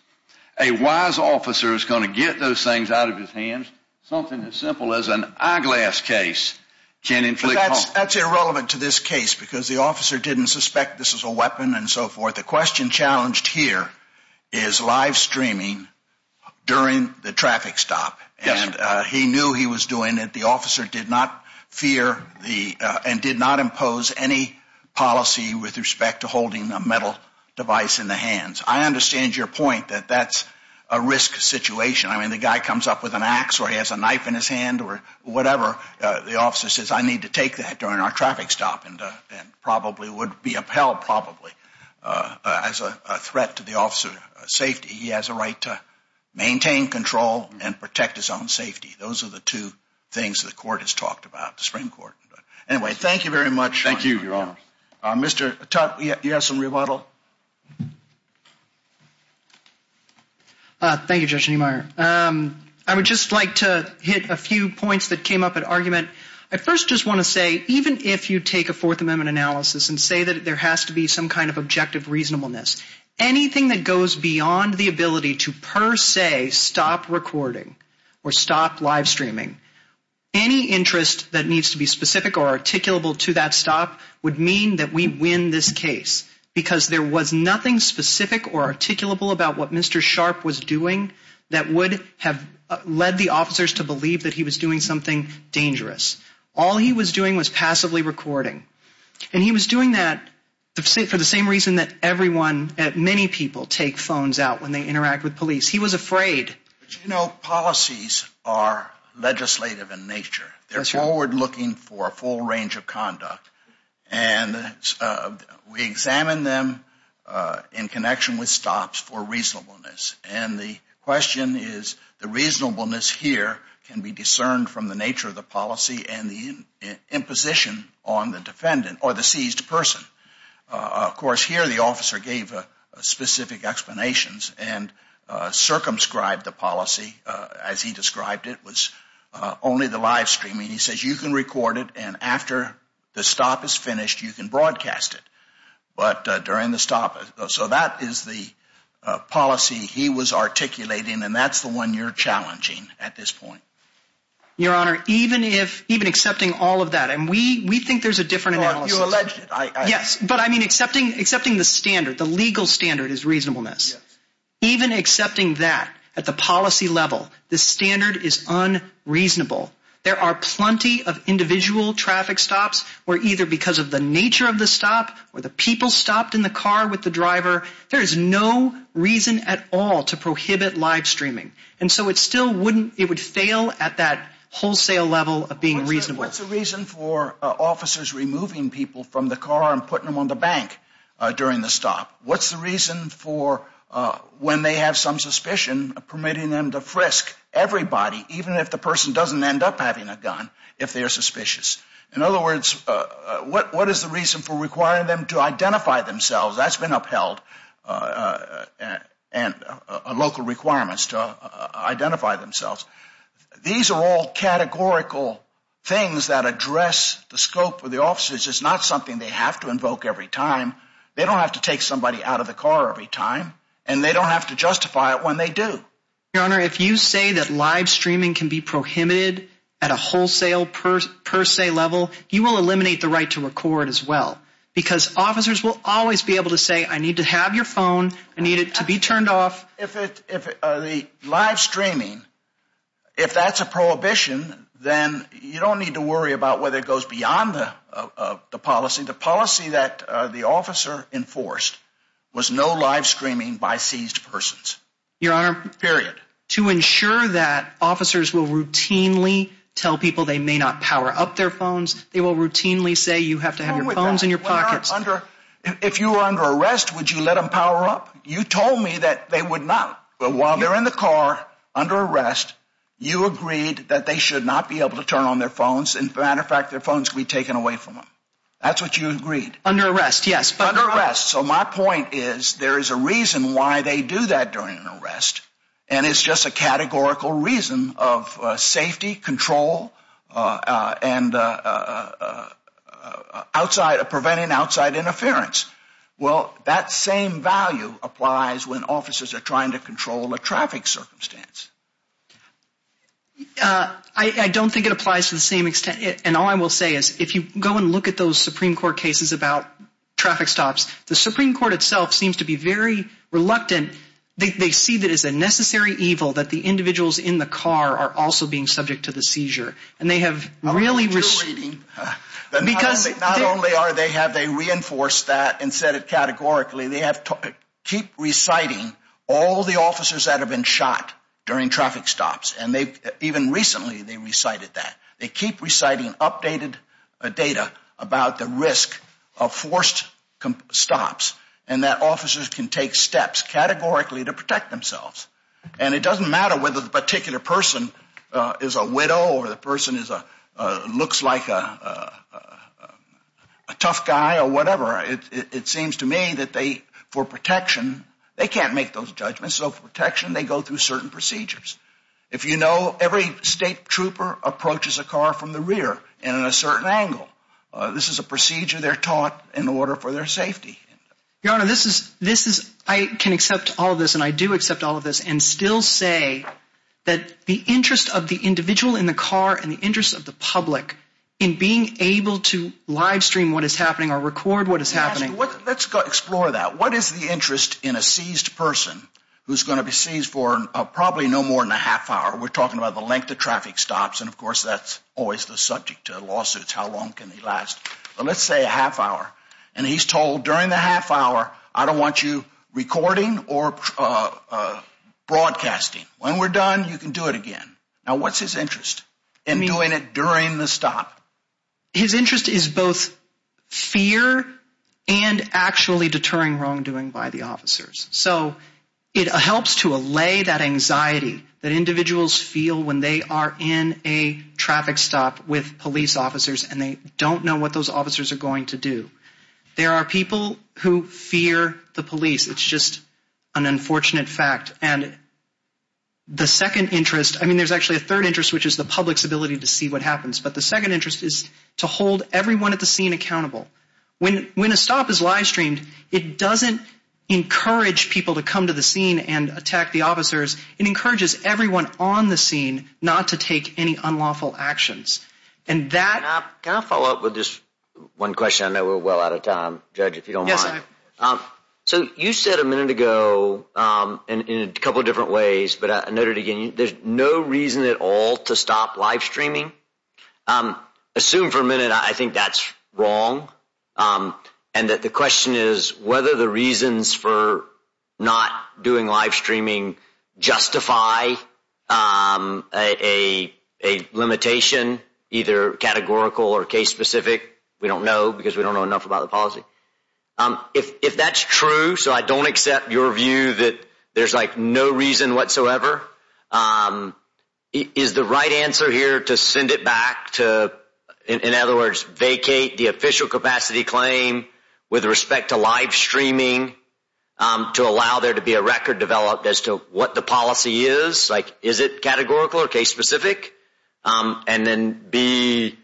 a wise officer is going to get those things out of his hands. Something as simple as an eyeglass case can inflict harm. But that's irrelevant to this case because the officer didn't suspect this was a weapon and so forth. The question challenged here is live streaming during the traffic stop. And he knew he was doing it. The officer did not fear and did not impose any policy with respect to holding a metal device in the hands. I understand your point that that's a risk situation. I mean, the guy comes up with an ax or he has a knife in his hand or whatever. The officer says, I need to take that during our traffic stop and probably would be upheld probably as a threat to the officer's safety. He has a right to maintain control and protect his own safety. Those are the two things the court has talked about, the Supreme Court. Anyway, thank you very much. Thank you, Your Honor. Mr. Tutte, do you have some rebuttal? Thank you, Judge Niemeyer. I would just like to hit a few points that came up at argument. I first just want to say even if you take a Fourth Amendment analysis and say that there has to be some kind of objective reasonableness, anything that goes beyond the ability to per se stop recording or stop live streaming, any interest that needs to be specific or articulable to that stop would mean that we win this case because there was nothing specific or articulable about what Mr. Sharp was doing that would have led the officers to believe that he was doing something dangerous. All he was doing was passively recording. And he was doing that for the same reason that everyone, many people, take phones out when they interact with police. He was afraid. But, you know, policies are legislative in nature. They're forward-looking for a full range of conduct. And we examine them in connection with stops for reasonableness. And the question is the reasonableness here can be discerned from the nature of the policy and the imposition on the defendant or the seized person. Of course, here the officer gave specific explanations and circumscribed the policy as he described it. It was only the live streaming. He says you can record it. And after the stop is finished, you can broadcast it. But during the stop, so that is the policy he was articulating. And that's the one you're challenging at this point. Your Honor, even accepting all of that, and we think there's a different analysis. Well, you alleged it. Yes, but I mean accepting the standard, the legal standard is reasonableness. Even accepting that at the policy level, the standard is unreasonable. There are plenty of individual traffic stops where either because of the nature of the stop or the people stopped in the car with the driver, there is no reason at all to prohibit live streaming. And so it still wouldn't, it would fail at that wholesale level of being reasonable. What's the reason for officers removing people from the car and putting them on the bank during the stop? What's the reason for when they have some suspicion, permitting them to frisk everybody, even if the person doesn't end up having a gun, if they are suspicious? In other words, what is the reason for requiring them to identify themselves? That's been upheld, local requirements to identify themselves. These are all categorical things that address the scope of the officers. It's not something they have to invoke every time. They don't have to take somebody out of the car every time. And they don't have to justify it when they do. Your Honor, if you say that live streaming can be prohibited at a wholesale per se level, you will eliminate the right to record as well because officers will always be able to say, I need to have your phone, I need it to be turned off. If the live streaming, if that's a prohibition, then you don't need to worry about whether it goes beyond the policy. The policy that the officer enforced was no live streaming by seized persons. Your Honor, to ensure that officers will routinely tell people they may not power up their phones, they will routinely say you have to have your phones in your pockets. If you were under arrest, would you let them power up? You told me that they would not. But while they're in the car, under arrest, you agreed that they should not be able to turn on their phones. As a matter of fact, their phones could be taken away from them. That's what you agreed. Under arrest, yes. So my point is there is a reason why they do that during an arrest, and it's just a categorical reason of safety, control, and preventing outside interference. Well, that same value applies when officers are trying to control a traffic circumstance. I don't think it applies to the same extent. And all I will say is if you go and look at those Supreme Court cases about traffic stops, the Supreme Court itself seems to be very reluctant. They see that it's a necessary evil that the individuals in the car are also being subject to the seizure. And they have really— I don't think you're reading. Not only have they reinforced that and said it categorically, they keep reciting all the officers that have been shot during traffic stops, and even recently they recited that. They keep reciting updated data about the risk of forced stops and that officers can take steps categorically to protect themselves. And it doesn't matter whether the particular person is a widow or the person looks like a tough guy or whatever. It seems to me that they, for protection, they can't make those judgments. So for protection, they go through certain procedures. If you know every state trooper approaches a car from the rear and at a certain angle, this is a procedure they're taught in order for their safety. Your Honor, this is—I can accept all of this, and I do accept all of this, and still say that the interest of the individual in the car and the interest of the public in being able to livestream what is happening or record what is happening— Let's explore that. What is the interest in a seized person who's going to be seized for probably no more than a half hour? We're talking about the length of traffic stops, and of course that's always the subject of lawsuits, how long can they last. But let's say a half hour, and he's told during the half hour, I don't want you recording or broadcasting. When we're done, you can do it again. Now what's his interest in doing it during the stop? His interest is both fear and actually deterring wrongdoing by the officers. So it helps to allay that anxiety that individuals feel when they are in a traffic stop with police officers and they don't know what those officers are going to do. There are people who fear the police. It's just an unfortunate fact. And the second interest—I mean, there's actually a third interest, which is the public's ability to see what happens. But the second interest is to hold everyone at the scene accountable. When a stop is live-streamed, it doesn't encourage people to come to the scene and attack the officers. It encourages everyone on the scene not to take any unlawful actions. And that— Can I follow up with this one question? I know we're well out of time. Judge, if you don't mind. Yes, I am. So you said a minute ago, in a couple of different ways, but I noted again, there's no reason at all to stop live-streaming. Assume for a minute I think that's wrong and that the question is whether the reasons for not doing live-streaming justify a limitation, either categorical or case-specific. We don't know because we don't know enough about the policy. If that's true, so I don't accept your view that there's like no reason whatsoever, is the right answer here to send it back to, in other words, vacate the official capacity claim with respect to live-streaming to allow there to be a record developed as to what the policy is? Like, is it categorical or case-specific? And then B,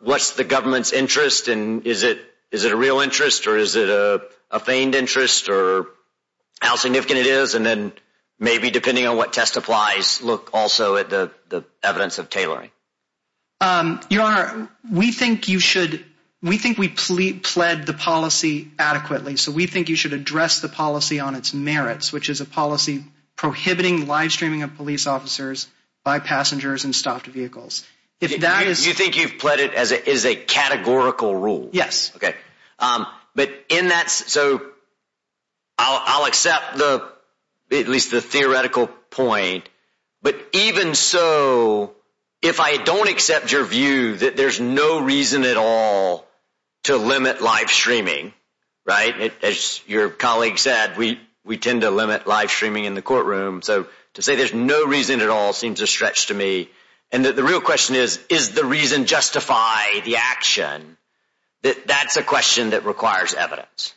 what's the government's interest? And is it a real interest or is it a feigned interest or how significant it is? And then maybe, depending on what test applies, look also at the evidence of tailoring. Your Honor, we think you should—we think we plead the policy adequately. So we think you should address the policy on its merits, which is a policy prohibiting live-streaming of police officers by passengers in stopped vehicles. If that is— You think you've pled it as a categorical rule? Yes. Okay. But in that—so I'll accept at least the theoretical point. But even so, if I don't accept your view that there's no reason at all to limit live-streaming, right, as your colleague said, we tend to limit live-streaming in the courtroom. So to say there's no reason at all seems a stretch to me. And the real question is, is the reason justify the action? That's a question that requires evidence.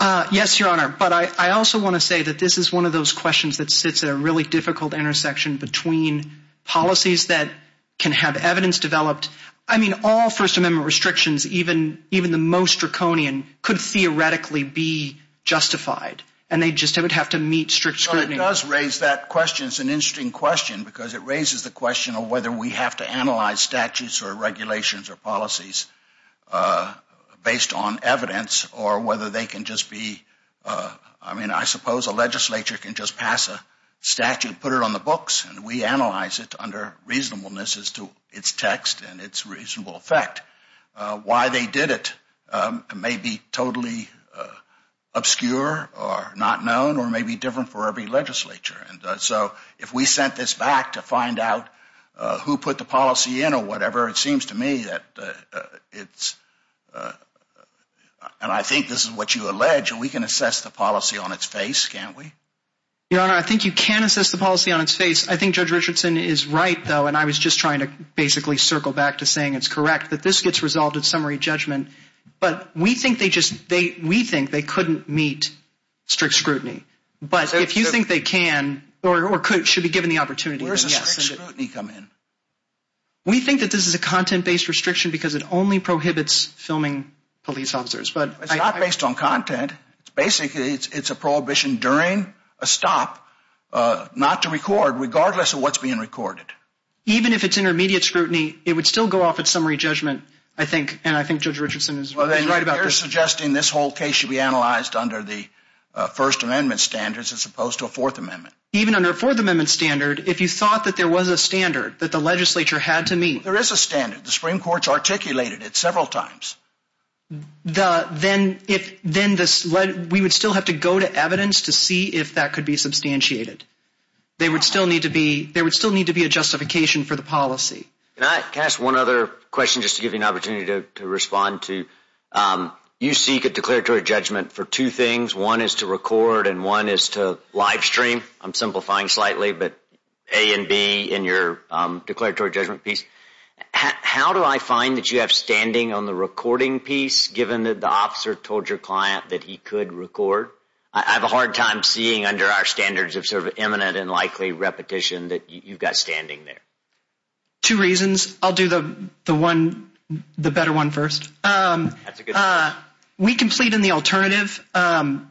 Yes, Your Honor. But I also want to say that this is one of those questions that sits at a really difficult intersection between policies that can have evidence developed. I mean, all First Amendment restrictions, even the most draconian, could theoretically be justified. And they just would have to meet strict scrutiny. It does raise that question. It's an interesting question because it raises the question of whether we have to analyze statutes or regulations or policies based on evidence or whether they can just be— I mean, I suppose a legislature can just pass a statute, put it on the books, and we analyze it under reasonableness as to its text and its reasonable effect. Why they did it may be totally obscure or not known or may be different for every legislature. So if we sent this back to find out who put the policy in or whatever, it seems to me that it's— and I think this is what you allege, we can assess the policy on its face, can't we? Your Honor, I think you can assess the policy on its face. I think Judge Richardson is right, though, and I was just trying to basically circle back to saying it's correct, that this gets resolved at summary judgment. But we think they just—we think they couldn't meet strict scrutiny. But if you think they can or should be given the opportunity, then yes. Where does strict scrutiny come in? We think that this is a content-based restriction because it only prohibits filming police officers. It's not based on content. Basically, it's a prohibition during a stop not to record regardless of what's being recorded. Even if it's intermediate scrutiny, it would still go off at summary judgment, I think, and I think Judge Richardson is right about that. Well, then you're suggesting this whole case should be analyzed under the First Amendment standards as opposed to a Fourth Amendment. Even under a Fourth Amendment standard, if you thought that there was a standard that the legislature had to meet— There is a standard. The Supreme Court's articulated it several times. Then we would still have to go to evidence to see if that could be substantiated. There would still need to be a justification for the policy. Can I ask one other question just to give you an opportunity to respond to? You seek a declaratory judgment for two things. One is to record and one is to live stream. I'm simplifying slightly, but A and B in your declaratory judgment piece. How do I find that you have standing on the recording piece given that the officer told your client that he could record? I have a hard time seeing under our standards of sort of eminent and likely repetition that you've got standing there. Two reasons. I'll do the better one first. That's a good one. We can plead in the alternative, and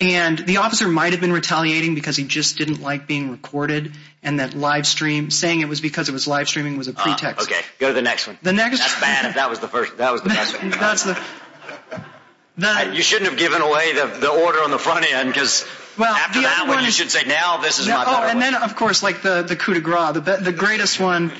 the officer might have been retaliating because he just didn't like being recorded and that saying it was because it was live streaming was a pretext. Go to the next one. That's bad. That was the best one. You shouldn't have given away the order on the front end because after that one, you should say, now this is my better one. Then, of course, like the coup de grace, the greatest one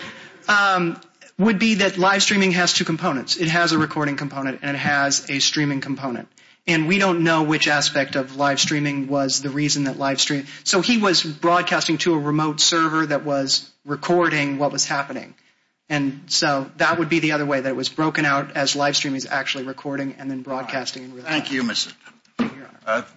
would be that live streaming has two components. It has a recording component and it has a streaming component. We don't know which aspect of live streaming was the reason that live stream— so he was broadcasting to a remote server that was recording what was happening, and so that would be the other way that it was broken out as live streaming is actually recording and then broadcasting. Thank you, Mr. It's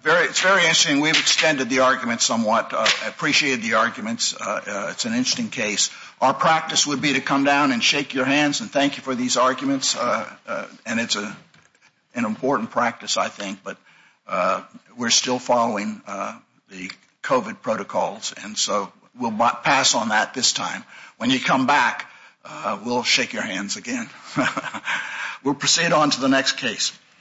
very interesting. We've extended the argument somewhat. I appreciate the arguments. It's an interesting case. Our practice would be to come down and shake your hands and thank you for these arguments, and it's an important practice, I think, but we're still following the COVID protocols, and so we'll pass on that this time. When you come back, we'll shake your hands again. We'll proceed on to the next case.